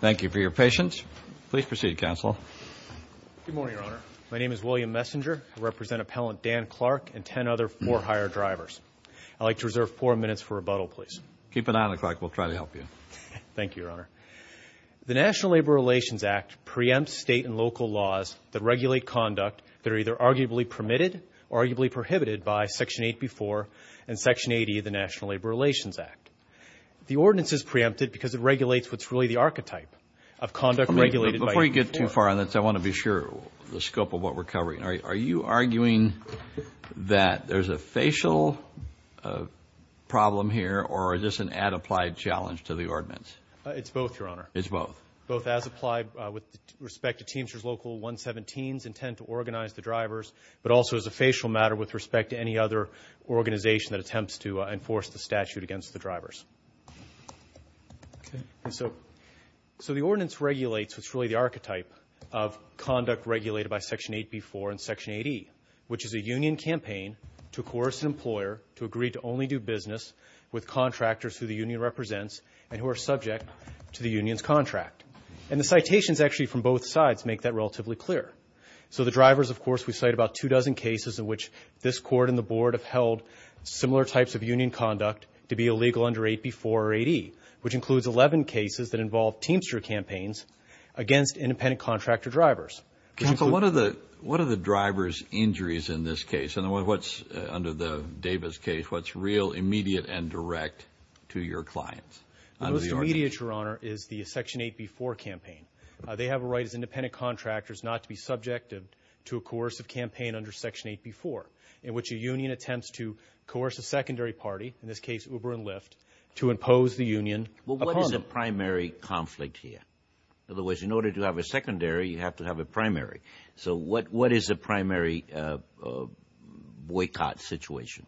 Thank you for your patience. Please proceed, Counsel. Good morning, Your Honor. My name is William Messinger. I represent Appellant Dan Clark and ten other four hired drivers. I'd like to reserve four minutes for rebuttal, please. Keep an eye on it, Clark. We'll try to help you. Thank you, Your Honor. The National Labor Relations Act preempts state and local laws that regulate conduct that are either arguably permitted or arguably prohibited by Section 8B-4 and Section 80 of the National Labor Relations Act. The ordinance is preempted because it regulates what's really the archetype of conduct regulated by law. Before you get too far on this, I want to be sure of the scope of what we're covering. Are you arguing that there's a facial problem here, or is this an ad applied challenge to the ordinance? It's both, Your Honor. It's both. Both as applied with respect to Teamsters Local 117's intent to organize the drivers, but also as a facial matter with respect to any other organization that attempts to enforce the statute against the drivers. Okay. And so the ordinance regulates what's really the archetype of conduct regulated by Section 8B-4 and Section 80, which is a union campaign to coerce an employer to agree to only do business with contractors who the union represents and who are subject to the union's contract. And the citations actually from both sides make that relatively clear. So the drivers, of course, we cite about two dozen cases in which this Court and the Board have held similar types of union conduct to be illegal under 8B-4 or 8E, which includes 11 cases that involve Teamster campaigns against independent contractor drivers. Counsel, what are the driver's injuries in this case? And what's under the Davis case, what's real, immediate, and direct to your clients? The most immediate, Your Honor, is the Section 8B-4 campaign. They have a right as independent contractors not to be subjective to a coercive campaign under Section 8B-4 in which a union attempts to coerce a secondary party, in this case Uber and Lyft, to impose the union upon them. Well, what is the primary conflict here? Otherwise, in order to have a secondary, you have to have a primary. So what is the primary boycott situation?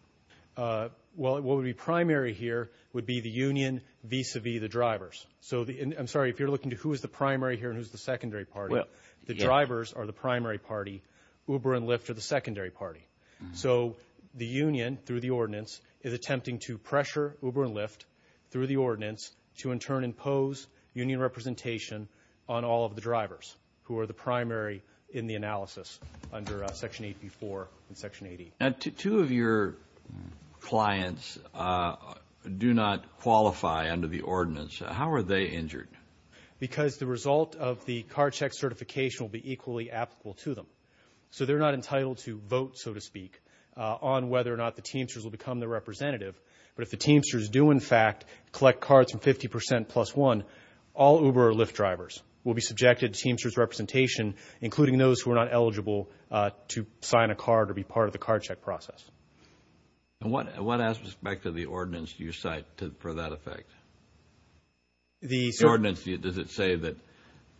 Well, what would be primary here would be the union vis-à-vis the drivers. So I'm sorry, if you're looking at who is the primary here and who is the secondary party, the drivers are the primary party, Uber and Lyft are the secondary party. So the union, through the ordinance, is attempting to pressure Uber and Lyft, through the ordinance, to in turn impose union representation on all of the drivers who are the primary in the analysis under Section 8B-4 and Section 8E. Now, two of your clients do not qualify under the ordinance. How are they injured? Because the result of the card check certification will be equally applicable to them. So they're not entitled to vote, so to speak, on whether or not the Teamsters will become the representative. But if the Teamsters do, in fact, collect cards from 50% plus one, all Uber or Lyft drivers will be subjected to Teamsters representation, including those who are not eligible to sign a card or be part of the card check process. And what aspect of the ordinance do you cite for that effect? The ordinance, does it say that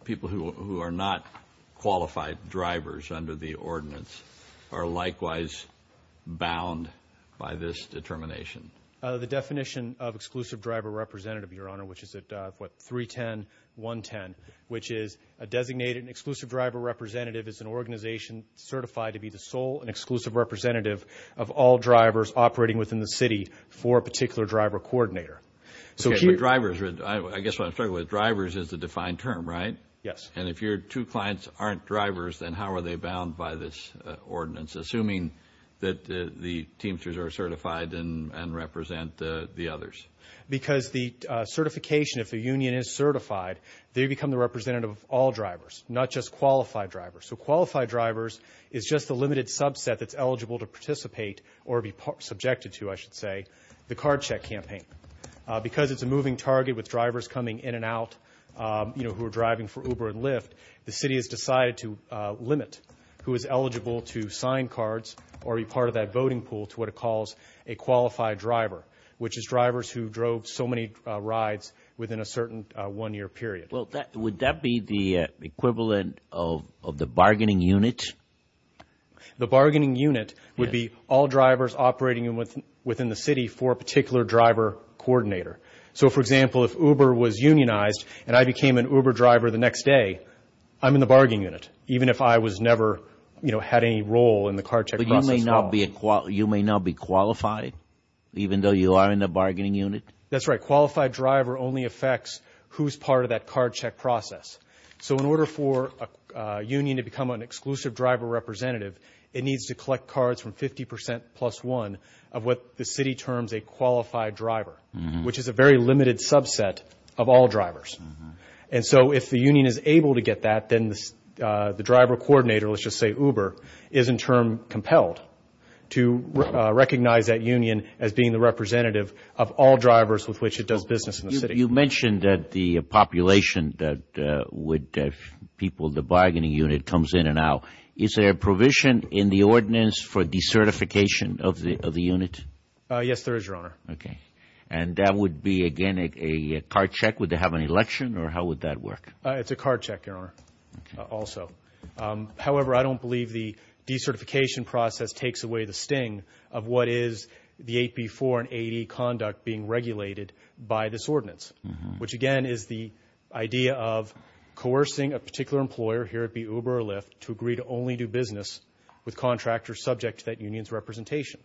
people who are not qualified drivers under the ordinance are likewise bound by this determination? The definition of exclusive driver representative, Your Honor, which is at 310.110, which is a designated and exclusive driver representative is an organization certified to be the sole and exclusive representative of all drivers operating within the city for a particular driver coordinator. Okay, but drivers, I guess what I'm struggling with, drivers is the defined term, right? Yes. And if your two clients aren't drivers, then how are they bound by this ordinance, assuming that the Teamsters are certified and represent the others? Because the certification, if a union is certified, they become the representative of all drivers, not just qualified drivers. So qualified drivers is just a limited subset that's eligible to participate or be subjected to, I should say, the card check campaign. Because it's a moving target with drivers coming in and out, you know, who are driving for Uber and Lyft, the city has decided to limit who is eligible to sign cards or be part of that voting pool to what it calls a qualified driver, which is drivers who drove so many rides within a certain one-year period. Well, would that be the equivalent of the bargaining unit? The bargaining unit would be all drivers operating within the city for a particular driver coordinator. So, for example, if Uber was unionized and I became an Uber driver the next day, I'm in the bargaining unit, even if I was never, you know, had any role in the card check process at all. But you may not be qualified, even though you are in the bargaining unit? That's right. Qualified driver only affects who's part of that card check process. So in order for a union to become an exclusive driver representative, it needs to collect cards from 50 percent plus one of what the city terms a qualified driver, which is a very limited subset of all drivers. And so if the union is able to get that, then the driver coordinator, let's just say Uber, is in turn compelled to recognize that union as being the representative of all drivers with which it does business in the city. You mentioned that the population that would have people in the bargaining unit comes in and out. Is there a provision in the ordinance for decertification of the unit? Yes, there is, Your Honor. Okay. And that would be, again, a card check? Would they have an election, or how would that work? It's a card check, Your Honor, also. However, I don't believe the decertification process takes away the sting of what is the 8B4 and 8E conduct being regulated by this ordinance, which, again, is the idea of coercing a particular employer, here it would be Uber or Lyft, to agree to only do business with contractors subject to that union's representation.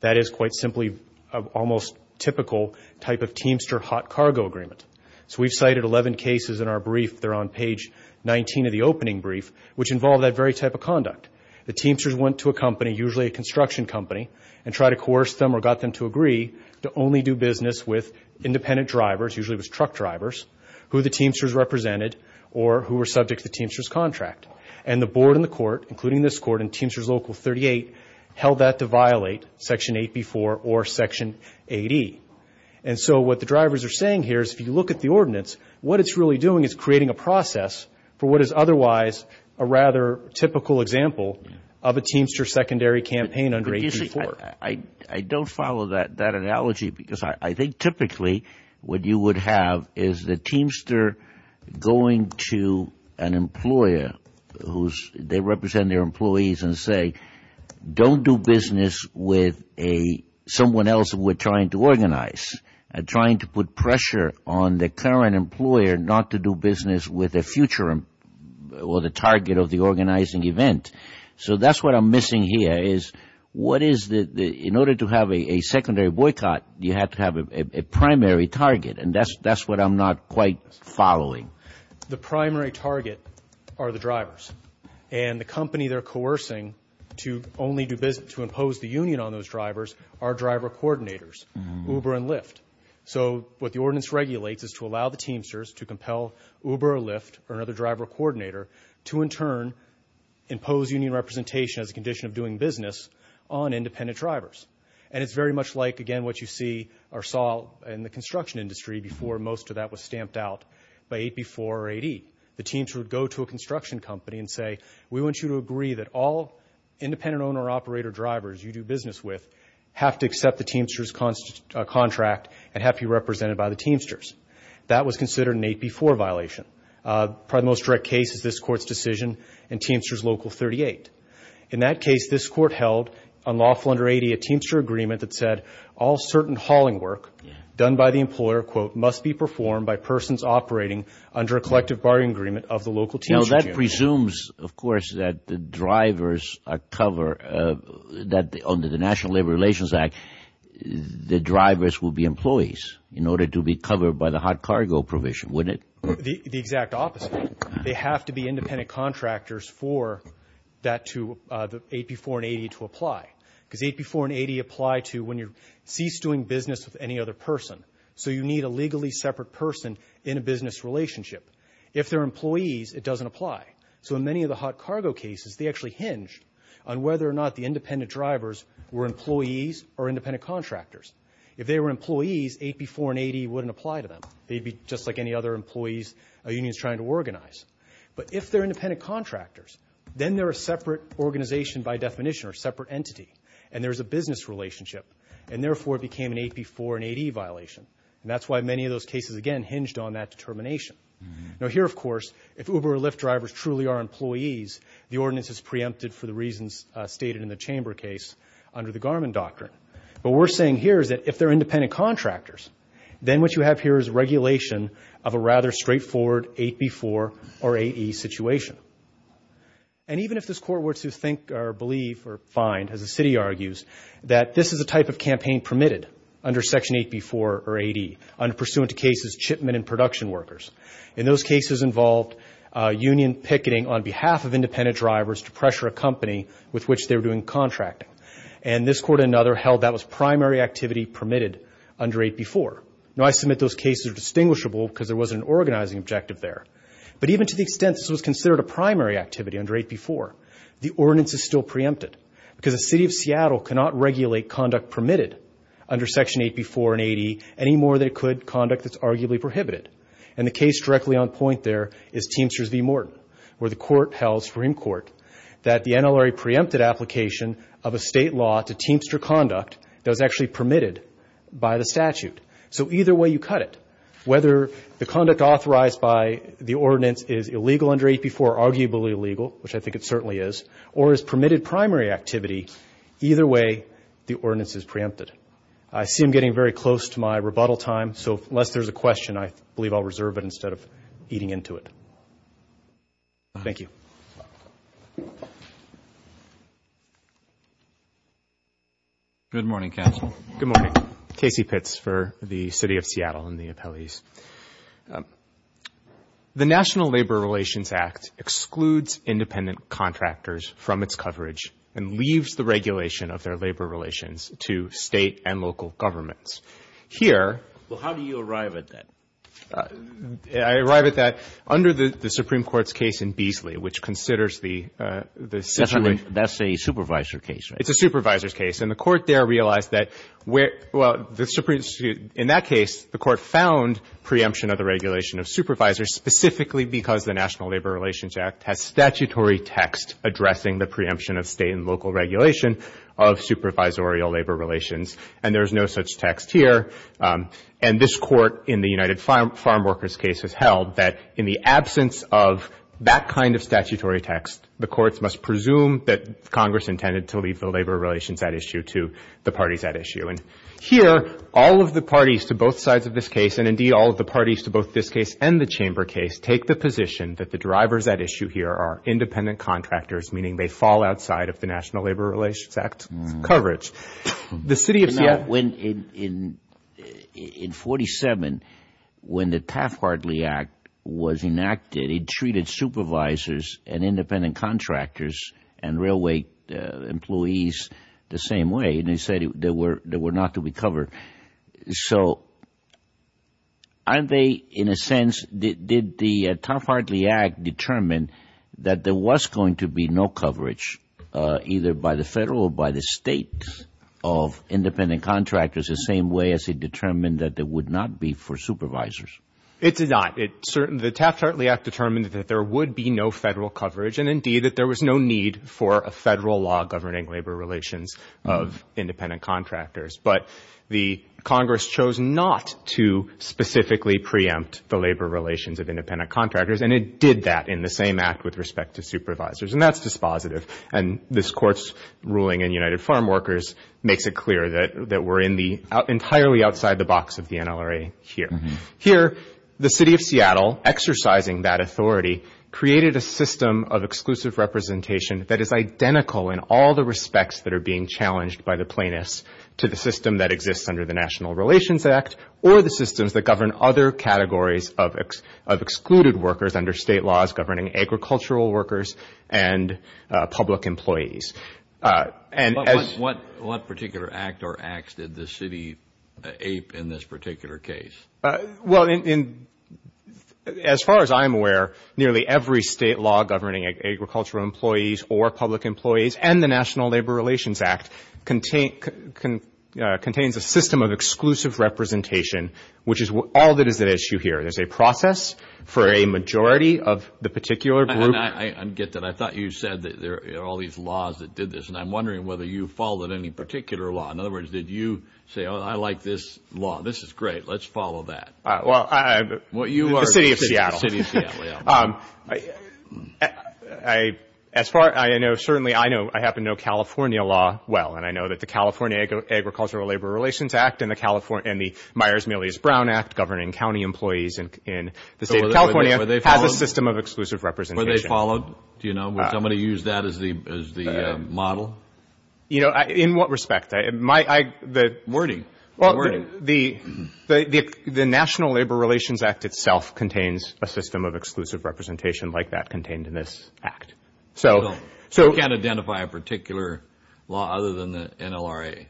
That is quite simply an almost typical type of Teamster hot cargo agreement. So we've cited 11 cases in our brief. They're on page 19 of the opening brief, which involve that very type of conduct. The Teamsters went to a company, usually a construction company, and tried to coerce them or got them to agree to only do business with independent drivers, usually it was truck drivers, who the Teamsters represented or who were subject to the Teamsters' contract. And the board and the court, including this court and Teamsters Local 38, held that to violate Section 8B4 or Section 8E. And so what the drivers are saying here is if you look at the ordinance, what it's really doing is creating a process for what is otherwise a rather typical example of a Teamster secondary campaign under 8B4. I don't follow that analogy because I think typically what you would have is the Teamster going to an employer who they represent their employees and say, don't do business with someone else we're trying to organize. Trying to put pressure on the current employer not to do business with a future or the target of the organizing event. So that's what I'm missing here is what is the, in order to have a secondary boycott, you have to have a primary target. And that's what I'm not quite following. The primary target are the drivers. And the company they're coercing to only do business, to impose the union on those drivers, are driver coordinators, Uber and Lyft. So what the ordinance regulates is to allow the Teamsters to compel Uber or Lyft or another driver coordinator to in turn impose union representation as a condition of doing business on independent drivers. And it's very much like, again, what you see or saw in the construction industry before most of that was stamped out by 8B4 or 8E. The Teamsters would go to a construction company and say, we want you to agree that all independent owner operator drivers you do business with have to accept the Teamsters contract and have to be represented by the Teamsters. That was considered an 8B4 violation. Probably the most direct case is this Court's decision in Teamsters Local 38. In that case, this Court held unlawful under 80 a Teamster agreement that said all certain hauling work done by the employer, quote, must be performed by persons operating under a collective bargaining agreement of the local Teamster union. Now that presumes, of course, that the drivers are cover, that under the National Labor Relations Act, the drivers will be employees in order to be covered by the hot cargo provision, wouldn't it? The exact opposite. They have to be independent contractors for that to 8B4 and 8E to apply. Because 8B4 and 8E apply to when you cease doing business with any other person. So you need a legally separate person in a business relationship. If they're employees, it doesn't apply. So in many of the hot cargo cases, they actually hinge on whether or not the independent drivers were employees or independent contractors. If they were employees, 8B4 and 8E wouldn't apply to them. They'd be just like any other employees a union's trying to organize. But if they're independent contractors, then they're a separate organization by definition or separate entity. And there's a business relationship. And therefore, it became an 8B4 and 8E violation. And that's why many of those cases, again, hinged on that determination. Now here, of course, if Uber or Lyft drivers truly are employees, the ordinance is preempted for the reasons stated in the Chamber case under the Garmin Doctrine. But what we're saying here is that if they're independent contractors, then what you have here is regulation of a rather straightforward 8B4 or 8E situation. And even if this court were to think or believe or find, as the city argues, that this is a type of campaign permitted under Section 8B4 or 8E, pursuant to cases, shipment and production workers. And those cases involved union picketing on behalf of independent drivers to pressure a company with which they were doing contracting. And this court and another held that was primary activity permitted under 8B4. Now, I submit those cases are distinguishable because there was an organizing objective there. But even to the extent this was considered a primary activity under 8B4, the ordinance is still preempted. Because the city of Seattle cannot regulate conduct permitted under Section 8B4 and 8E any more than it could conduct that's arguably prohibited. And the case directly on point there is Teamster v. Morton, where the court held, Supreme Court, that the NLRA preempted application of a state law to Teamster conduct that was actually permitted by the statute. So either way you cut it, whether the conduct authorized by the ordinance is illegal under 8B4 or arguably illegal, which I think it certainly is, or is permitted primary activity, either way the ordinance is preempted. I see I'm getting very close to my rebuttal time, so unless there's a question, I believe I'll reserve it instead of eating into it. Thank you. Good morning, counsel. Good morning. Casey Pitts for the city of Seattle and the appellees. The National Labor Relations Act excludes independent contractors from its coverage and leaves the regulation of their labor relations to State and local governments. Here ---- Well, how do you arrive at that? I arrive at that under the Supreme Court's case in Beasley, which considers the situation ---- That's a supervisor case, right? It's a supervisor's case. And the court there realized that where ---- Well, in that case the court found preemption of the regulation of supervisors specifically because the National Labor Relations Act has statutory text addressing the preemption of State and local regulation of supervisorial labor relations. And there's no such text here. And this court in the United Farm Workers case has held that in the absence of that kind of statutory text, the courts must presume that Congress intended to leave the labor relations at issue to the parties at issue. And here all of the parties to both sides of this case, and indeed all of the parties to both this case and the chamber case, take the position that the drivers at issue here are independent contractors, meaning they fall outside of the National Labor Relations Act coverage. The city of Seattle ---- In 1947, when the Taft-Hartley Act was enacted, it treated supervisors and independent contractors and railway employees the same way, and they said they were not to be covered. So aren't they in a sense ---- Did the Taft-Hartley Act determine that there was going to be no coverage either by the Federal or by the State of independent contractors the same way as it determined that it would not be for supervisors? It did not. The Taft-Hartley Act determined that there would be no Federal coverage, and indeed that there was no need for a Federal law governing labor relations of independent contractors. But the Congress chose not to specifically preempt the labor relations of independent contractors, and it did that in the same act with respect to supervisors. And that's dispositive. And this Court's ruling in United Farm Workers makes it clear that we're entirely outside the box of the NLRA here. Here, the city of Seattle, exercising that authority, created a system of exclusive representation that is identical in all the respects that are being challenged by the plaintiffs to the system that exists under the National Relations Act or the systems that govern other categories of excluded workers under State laws governing agricultural workers and public employees. What particular act or acts did the city ape in this particular case? Well, as far as I'm aware, nearly every State law governing agricultural employees or public employees and the National Labor Relations Act contains a system of exclusive representation, which is all that is at issue here. There's a process for a majority of the particular group. I get that. I thought you said that there are all these laws that did this, and I'm wondering whether you followed any particular law. In other words, did you say, oh, I like this law. This is great. Let's follow that. The city of Seattle. The city of Seattle, yeah. As far as I know, certainly I happen to know California law well, and I know that the California Agricultural Labor Relations Act and the Myers-Millis-Brown Act governing county employees in the State of California has a system of exclusive representation. Were they followed? Do you know? Would somebody use that as the model? You know, in what respect? Wordy. The National Labor Relations Act itself contains a system of exclusive representation like that contained in this act. So you can't identify a particular law other than the NLRA?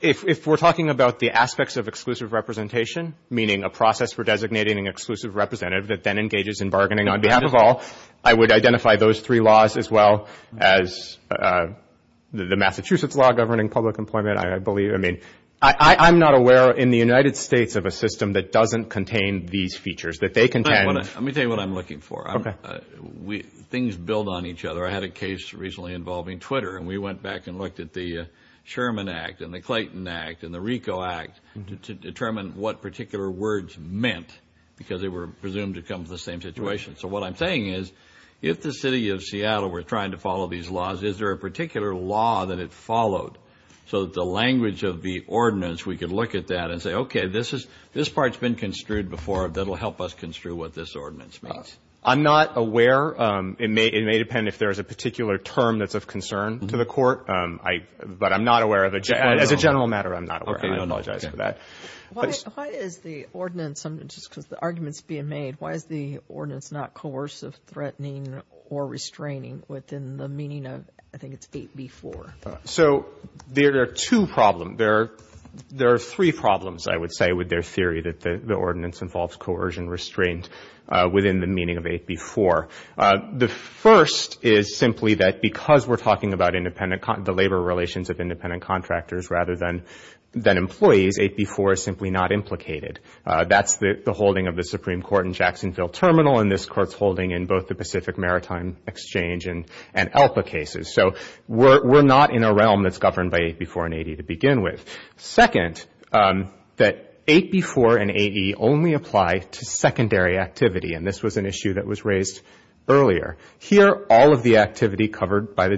If we're talking about the aspects of exclusive representation, meaning a process for designating an exclusive representative that then engages in bargaining on behalf of all, I would identify those three laws as well as the Massachusetts law governing public employment. I'm not aware in the United States of a system that doesn't contain these features. Let me tell you what I'm looking for. Things build on each other. I had a case recently involving Twitter, and we went back and looked at the Sherman Act and the Clayton Act and the RICO Act to determine what particular words meant because they were presumed to come from the same situation. So what I'm saying is if the City of Seattle were trying to follow these laws, is there a particular law that it followed so that the language of the ordinance, we could look at that and say, okay, this part's been construed before. That'll help us construe what this ordinance means. I'm not aware. It may depend if there's a particular term that's of concern to the court, but I'm not aware of it. As a general matter, I'm not aware. I apologize for that. Why is the ordinance, just because the argument's being made, why is the ordinance not coercive, threatening, or restraining within the meaning of I think it's 8b-4? So there are two problems. There are three problems, I would say, with their theory that the ordinance involves coercion, restraint within the meaning of 8b-4. The first is simply that because we're talking about independent, the labor relations of independent contractors rather than employees, 8b-4 is simply not implicated. That's the holding of the Supreme Court in Jacksonville Terminal, and this Court's holding in both the Pacific Maritime Exchange and ELPA cases. So we're not in a realm that's governed by 8b-4 and 8e to begin with. Second, that 8b-4 and 8e only apply to secondary activity, and this was an issue that was raised earlier. Here, all of the activity covered by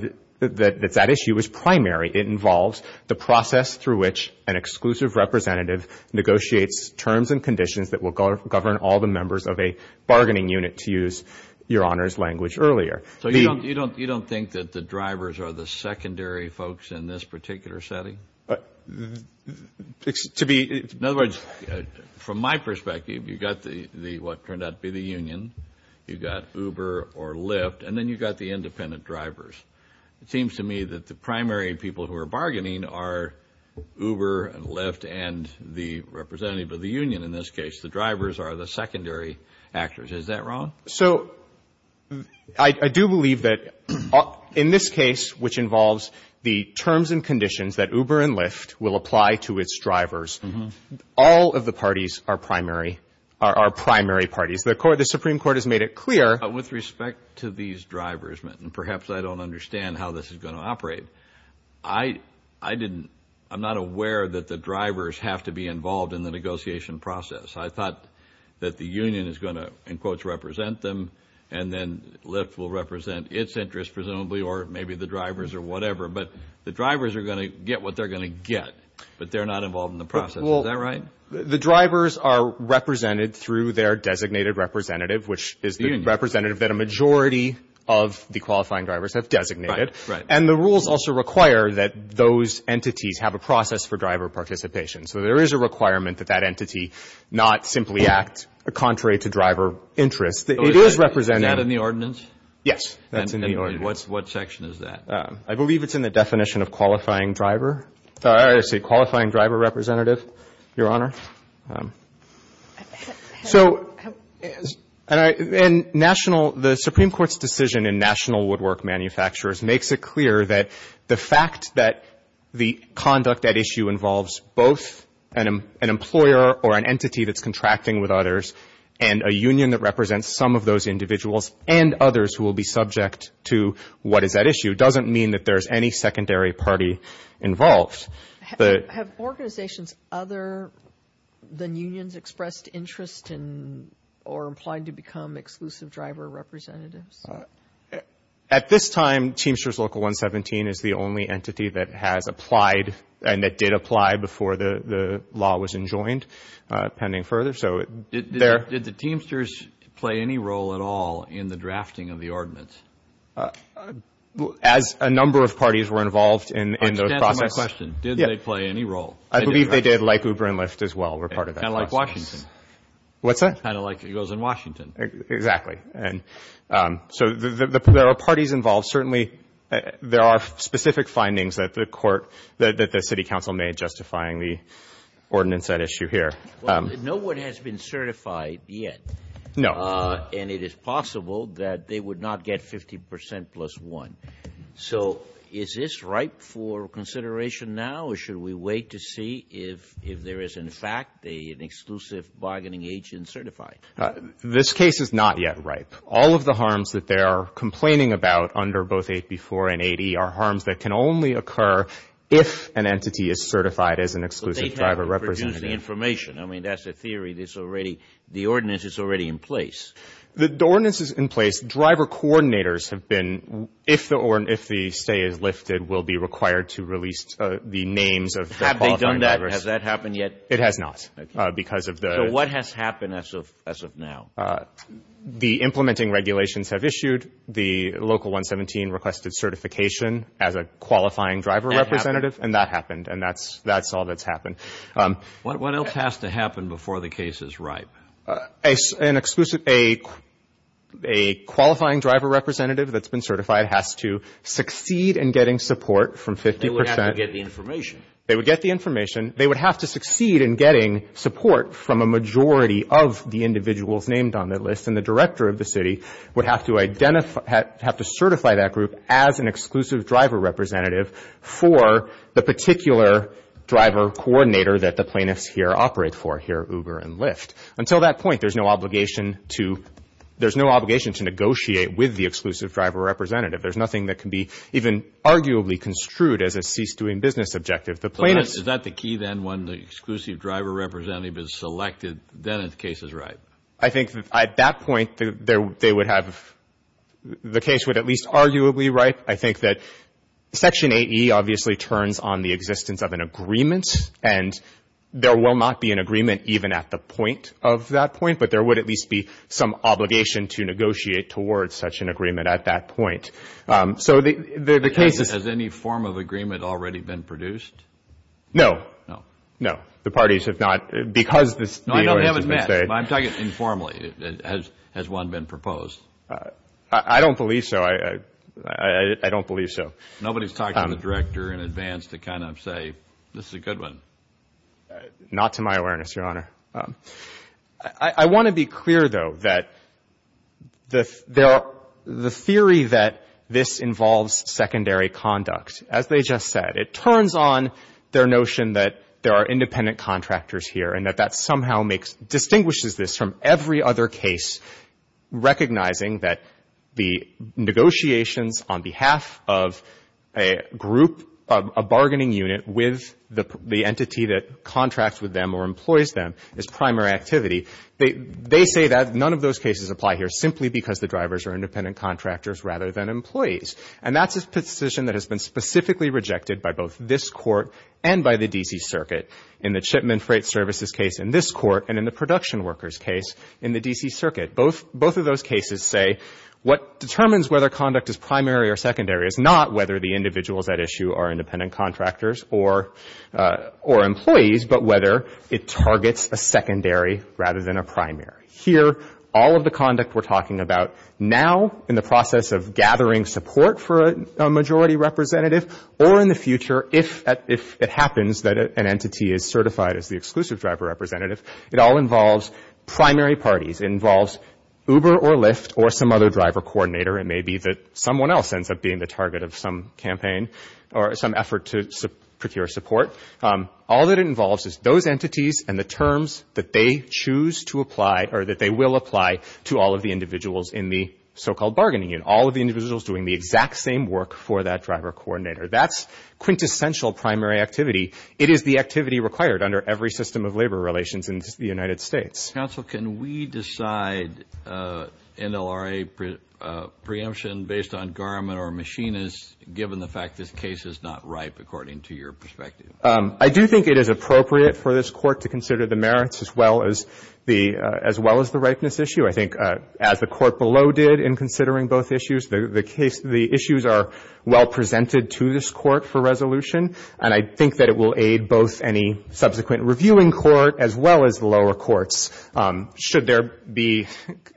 that issue is primary. It involves the process through which an exclusive representative negotiates terms and conditions that will govern all the members of a bargaining unit, to use Your Honor's language earlier. So you don't think that the drivers are the secondary folks in this particular setting? In other words, from my perspective, you've got what turned out to be the union, you've got Uber or Lyft, and then you've got the independent drivers. It seems to me that the primary people who are bargaining are Uber and Lyft and the representative of the union in this case. The drivers are the secondary actors. Is that wrong? So I do believe that in this case, which involves the terms and conditions that Uber and Lyft will apply to its drivers, all of the parties are primary parties. The Supreme Court has made it clear. With respect to these drivers, and perhaps I don't understand how this is going to operate, I'm not aware that the drivers have to be involved in the negotiation process. I thought that the union is going to, in quotes, represent them, and then Lyft will represent its interest, presumably, or maybe the drivers or whatever. But the drivers are going to get what they're going to get, but they're not involved in the process. Is that right? The drivers are represented through their designated representative, which is the representative that a majority of the qualifying drivers have designated. And the rules also require that those entities have a process for driver participation. So there is a requirement that that entity not simply act contrary to driver interest. It is represented. Is that in the ordinance? Yes, that's in the ordinance. And what section is that? I believe it's in the definition of qualifying driver. I would say qualifying driver representative, Your Honor. So the Supreme Court's decision in national woodwork manufacturers makes it clear that the fact that the conduct at issue involves both an employer or an entity that's contracting with others and a union that represents some of those individuals and others who will be subject to what is at issue doesn't mean that there is any secondary party involved. Have organizations other than unions expressed interest in or implied to become exclusive driver representatives? At this time, Teamsters Local 117 is the only entity that has applied and that did apply before the law was enjoined pending further. Did the Teamsters play any role at all in the drafting of the ordinance? As a number of parties were involved in the process. Aren't you answering my question? Did they play any role? I believe they did, like Uber and Lyft as well were part of that process. Kind of like Washington. What's that? Kind of like it goes in Washington. Exactly. So there are parties involved. Certainly there are specific findings that the city council made justifying the ordinance at issue here. No one has been certified yet. No. And it is possible that they would not get 50% plus one. So is this ripe for consideration now or should we wait to see if there is in fact an exclusive bargaining agent certified? This case is not yet ripe. All of the harms that they are complaining about under both 8B4 and 8E are harms that can only occur if an entity is certified as an exclusive driver representative. Exclusive information. I mean, that's a theory. The ordinance is already in place. The ordinance is in place. Driver coordinators have been, if the stay is lifted, will be required to release the names of the qualifying drivers. Have they done that? Has that happened yet? It has not because of the ‑‑ So what has happened as of now? The implementing regulations have issued. The Local 117 requested certification as a qualifying driver representative. And that happened. And that's all that's happened. What else has to happen before the case is ripe? An exclusive ‑‑ a qualifying driver representative that's been certified has to succeed in getting support from 50%. They would have to get the information. They would get the information. They would have to succeed in getting support from a majority of the individuals named on the list. And the director of the city would have to identify ‑‑ have to certify that group as an exclusive driver representative for the particular driver coordinator that the plaintiffs here operate for, here at Uber and Lyft. Until that point, there's no obligation to ‑‑ there's no obligation to negotiate with the exclusive driver representative. There's nothing that can be even arguably construed as a cease‑doing business objective. The plaintiffs ‑‑ Is that the key then, when the exclusive driver representative is selected, then the case is ripe? I think at that point, they would have ‑‑ the case would at least arguably ripe. I think that Section 8e obviously turns on the existence of an agreement. And there will not be an agreement even at the point of that point. But there would at least be some obligation to negotiate towards such an agreement at that point. So the case is ‑‑ Has any form of agreement already been produced? No. No. The parties have not, because this deal has been ‑‑ No, I know we haven't met, but I'm talking informally. Has one been proposed? I don't believe so. I don't believe so. Nobody's talked to the director in advance to kind of say, this is a good one. Not to my awareness, Your Honor. I want to be clear, though, that the theory that this involves secondary conduct, as they just said, it turns on their notion that there are independent contractors here and that that somehow makes ‑‑ distinguishes this from every other case, recognizing that the negotiations on behalf of a group, a bargaining unit, with the entity that contracts with them or employs them is primary activity. They say that none of those cases apply here, simply because the drivers are independent contractors rather than employees. And that's a position that has been specifically rejected by both this Court and by the D.C. Circuit in the shipment freight services case in this Court and in the production workers case in the D.C. Circuit. Both of those cases say what determines whether conduct is primary or secondary is not whether the individuals at issue are independent contractors or employees, but whether it targets a secondary rather than a primary. Here, all of the conduct we're talking about now, in the process of gathering support for a majority representative, or in the future if it happens that an entity is certified as the exclusive driver representative, it all involves primary parties. It involves Uber or Lyft or some other driver coordinator. It may be that someone else ends up being the target of some campaign or some effort to procure support. All that it involves is those entities and the terms that they choose to apply or that they will apply to all of the individuals in the so-called bargaining unit, all of the individuals doing the exact same work for that driver coordinator. That's quintessential primary activity. It is the activity required under every system of labor relations in the United States. Kennedy. Counsel, can we decide NLRA preemption based on garment or machinists, given the fact this case is not ripe, according to your perspective? I do think it is appropriate for this Court to consider the merits as well as the ripeness issue. I think as the Court below did in considering both issues, the issues are well presented to this Court for resolution, and I think that it will aid both any subsequent reviewing court as well as the lower courts, should there be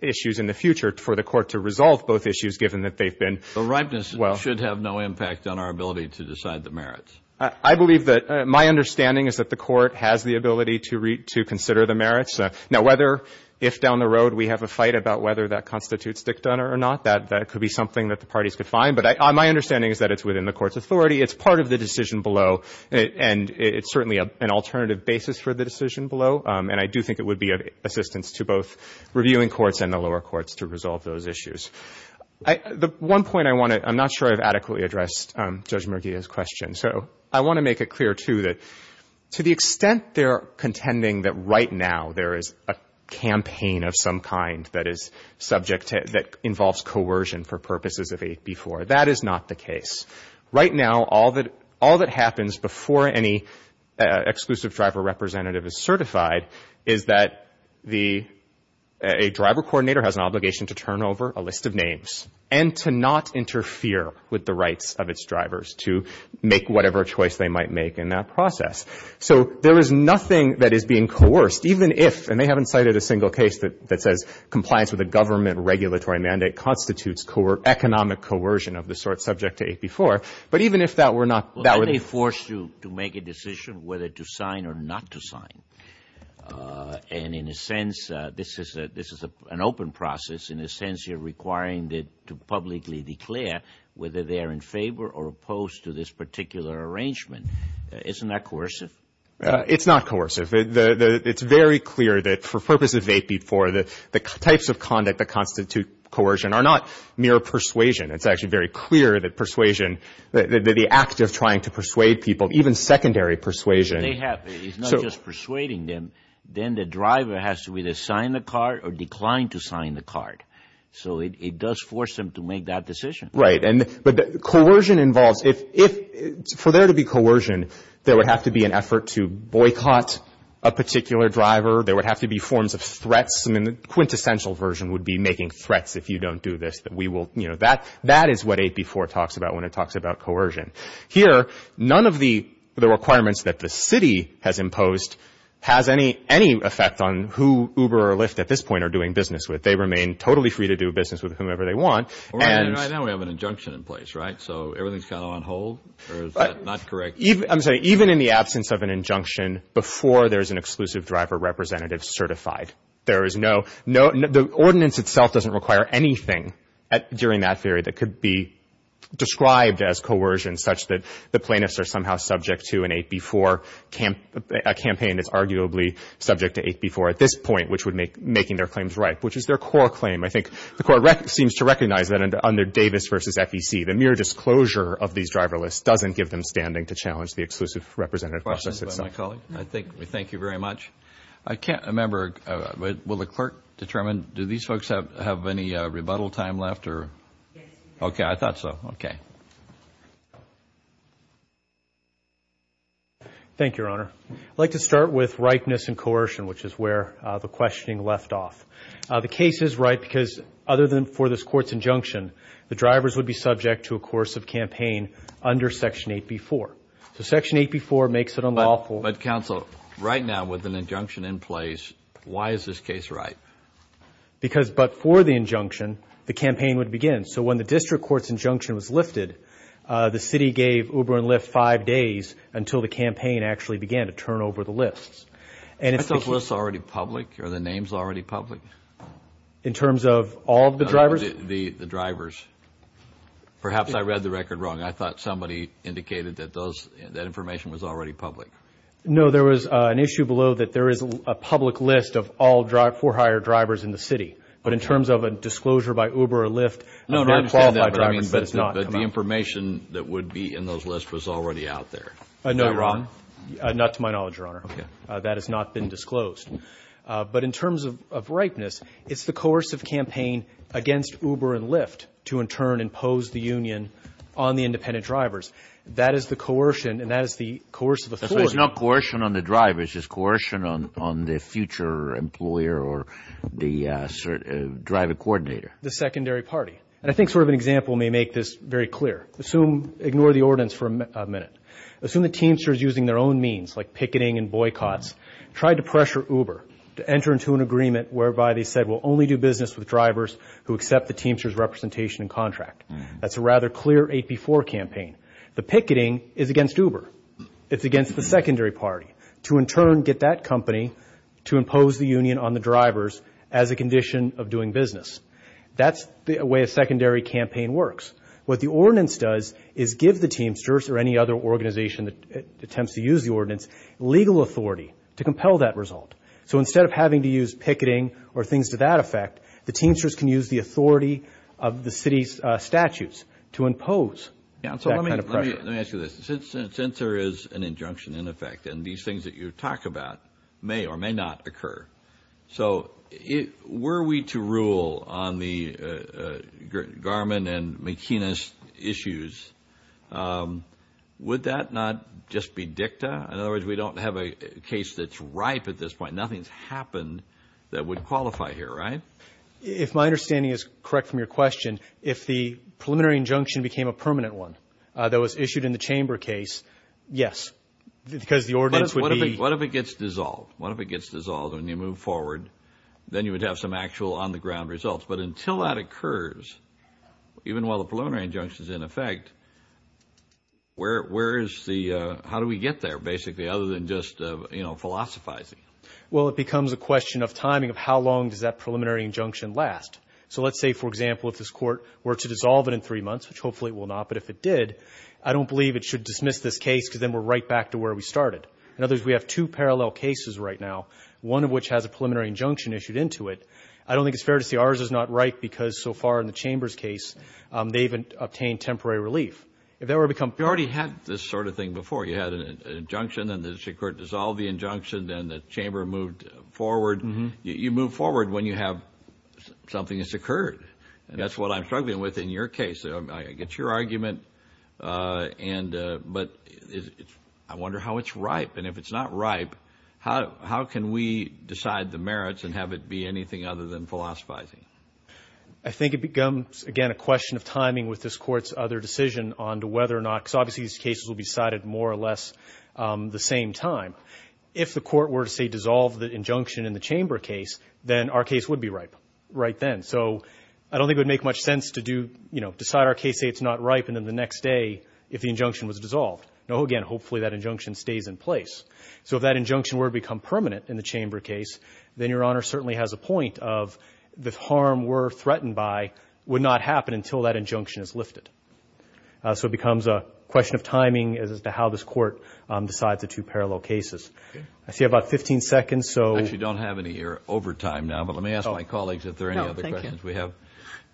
issues in the future for the Court to resolve both issues, given that they've been well. The ripeness should have no impact on our ability to decide the merits. I believe that my understanding is that the Court has the ability to consider the merits. Now, whether if down the road we have a fight about whether that constitutes Dick Dunner or not, that could be something that the parties could find. But my understanding is that it's within the Court's authority. It's part of the decision below, and it's certainly an alternative basis for the decision below. And I do think it would be of assistance to both reviewing courts and the lower courts to resolve those issues. The one point I want to — I'm not sure I've adequately addressed Judge Mergia's question. So I want to make it clear, too, that to the extent they're contending that right now there is a campaign of some kind that is subject to — that involves coercion for purposes of 8b-4, that is not the case. Right now, all that happens before any exclusive driver representative is certified is that a driver coordinator has an obligation to turn over a list of names and to not interfere with the rights of its drivers to make whatever choice they might make in that process. So there is nothing that is being coerced, even if — and they haven't cited a single case that says compliance with a government regulatory mandate constitutes economic coercion of the sort subject to 8b-4. But even if that were not — Well, then they're forced to make a decision whether to sign or not to sign. And in a sense, this is an open process. In a sense, you're requiring to publicly declare whether they are in favor or opposed to this particular arrangement. Isn't that coercive? It's not coercive. It's very clear that for purposes of 8b-4, the types of conduct that constitute coercion are not mere persuasion. It's actually very clear that persuasion, the act of trying to persuade people, even secondary persuasion — They have it. It's not just persuading them. Then the driver has to either sign the card or decline to sign the card. So it does force them to make that decision. Right. But coercion involves — for there to be coercion, there would have to be an effort to boycott a particular driver. There would have to be forms of threats. I mean, the quintessential version would be making threats, if you don't do this, that we will — you know, that is what 8b-4 talks about when it talks about coercion. Here, none of the requirements that the city has imposed has any effect on who Uber or Lyft at this point are doing business with. They remain totally free to do business with whomever they want. All right. Now we have an injunction in place, right? So everything's kind of on hold? Or is that not correct? I'm sorry. Even in the absence of an injunction, before there's an exclusive driver representative certified, there is no — the ordinance itself doesn't require anything during that period that could be described as coercion, such that the plaintiffs are somehow subject to an 8b-4 campaign that's arguably subject to 8b-4 at this point, which would make — making their claims right, which is their core claim. I think the court seems to recognize that under Davis v. FEC, the mere disclosure of these driver lists doesn't give them standing to challenge the exclusive representative process itself. I think — thank you very much. I can't remember — will the clerk determine — do these folks have any rebuttal time left or — Yes. Okay. I thought so. Okay. Thank you, Your Honor. I'd like to start with rightness and coercion, which is where the questioning left off. The case is right because, other than for this court's injunction, the drivers would be subject to a course of campaign under Section 8b-4. So Section 8b-4 makes it unlawful — But, counsel, right now, with an injunction in place, why is this case right? Because — but for the injunction, the campaign would begin. So when the district court's injunction was lifted, the city gave Uber and Lyft five days until the campaign actually began to turn over the lists. Aren't those lists already public? Are the names already public? In terms of all of the drivers? The drivers. Perhaps I read the record wrong. I thought somebody indicated that those — that information was already public. No, there was an issue below that there is a public list of all four hired drivers in the city. But in terms of a disclosure by Uber or Lyft — No, no, I understand that. But the information that would be in those lists was already out there. Is that wrong? Not to my knowledge, Your Honor. Okay. That has not been disclosed. But in terms of ripeness, it's the coercive campaign against Uber and Lyft to, in turn, impose the union on the independent drivers. That is the coercion, and that is the coercive authority. So it's not coercion on the drivers. It's coercion on the future employer or the driver coordinator. The secondary party. And I think sort of an example may make this very clear. Assume — ignore the ordinance for a minute. Assume the Teamsters, using their own means, like picketing and boycotts, tried to pressure Uber to enter into an agreement whereby they said, we'll only do business with drivers who accept the Teamsters' representation and contract. That's a rather clear AP4 campaign. The picketing is against Uber. It's against the secondary party to, in turn, get that company to impose the union on the drivers as a condition of doing business. That's the way a secondary campaign works. What the ordinance does is give the Teamsters or any other organization that attempts to use the ordinance legal authority to compel that result. So instead of having to use picketing or things to that effect, the Teamsters can use the authority of the city's statutes to impose that kind of pressure. Let me ask you this. Since there is an injunction, in effect, and these things that you talk about may or may not occur, so were we to rule on the Garman and McInnes issues, would that not just be dicta? In other words, we don't have a case that's ripe at this point. Nothing's happened that would qualify here, right? If my understanding is correct from your question, if the preliminary injunction became a permanent one that was issued in the Chamber case, yes. Because the ordinance would be – then you would have some actual on-the-ground results. But until that occurs, even while the preliminary injunction is in effect, where is the – how do we get there, basically, other than just philosophizing? Well, it becomes a question of timing of how long does that preliminary injunction last. So let's say, for example, if this court were to dissolve it in three months, which hopefully it will not, but if it did, I don't believe it should dismiss this case because then we're right back to where we started. In other words, we have two parallel cases right now, one of which has a preliminary injunction issued into it. I don't think it's fair to say ours is not ripe because, so far in the Chamber's case, they've obtained temporary relief. If that were to become – You already had this sort of thing before. You had an injunction and the district court dissolved the injunction, then the Chamber moved forward. You move forward when you have something that's occurred. And that's what I'm struggling with in your case. I get your argument, but I wonder how it's ripe. And if it's not ripe, how can we decide the merits and have it be anything other than philosophizing? I think it becomes, again, a question of timing with this Court's other decision on whether or not – because obviously these cases will be decided more or less the same time. If the Court were to, say, dissolve the injunction in the Chamber case, then our case would be ripe right then. So I don't think it would make much sense to decide our case, say it's not ripe, and then the next day, if the injunction was dissolved. No, again, hopefully that injunction stays in place. So if that injunction were to become permanent in the Chamber case, then Your Honor certainly has a point of the harm we're threatened by would not happen until that injunction is lifted. So it becomes a question of timing as to how this Court decides the two parallel cases. I see about 15 seconds, so – I actually don't have any here over time now, but let me ask my colleagues if there are any other questions we have. No,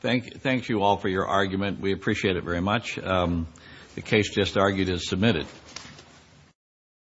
thank you. Thank you all for your argument. We appreciate it very much. The case just argued is submitted.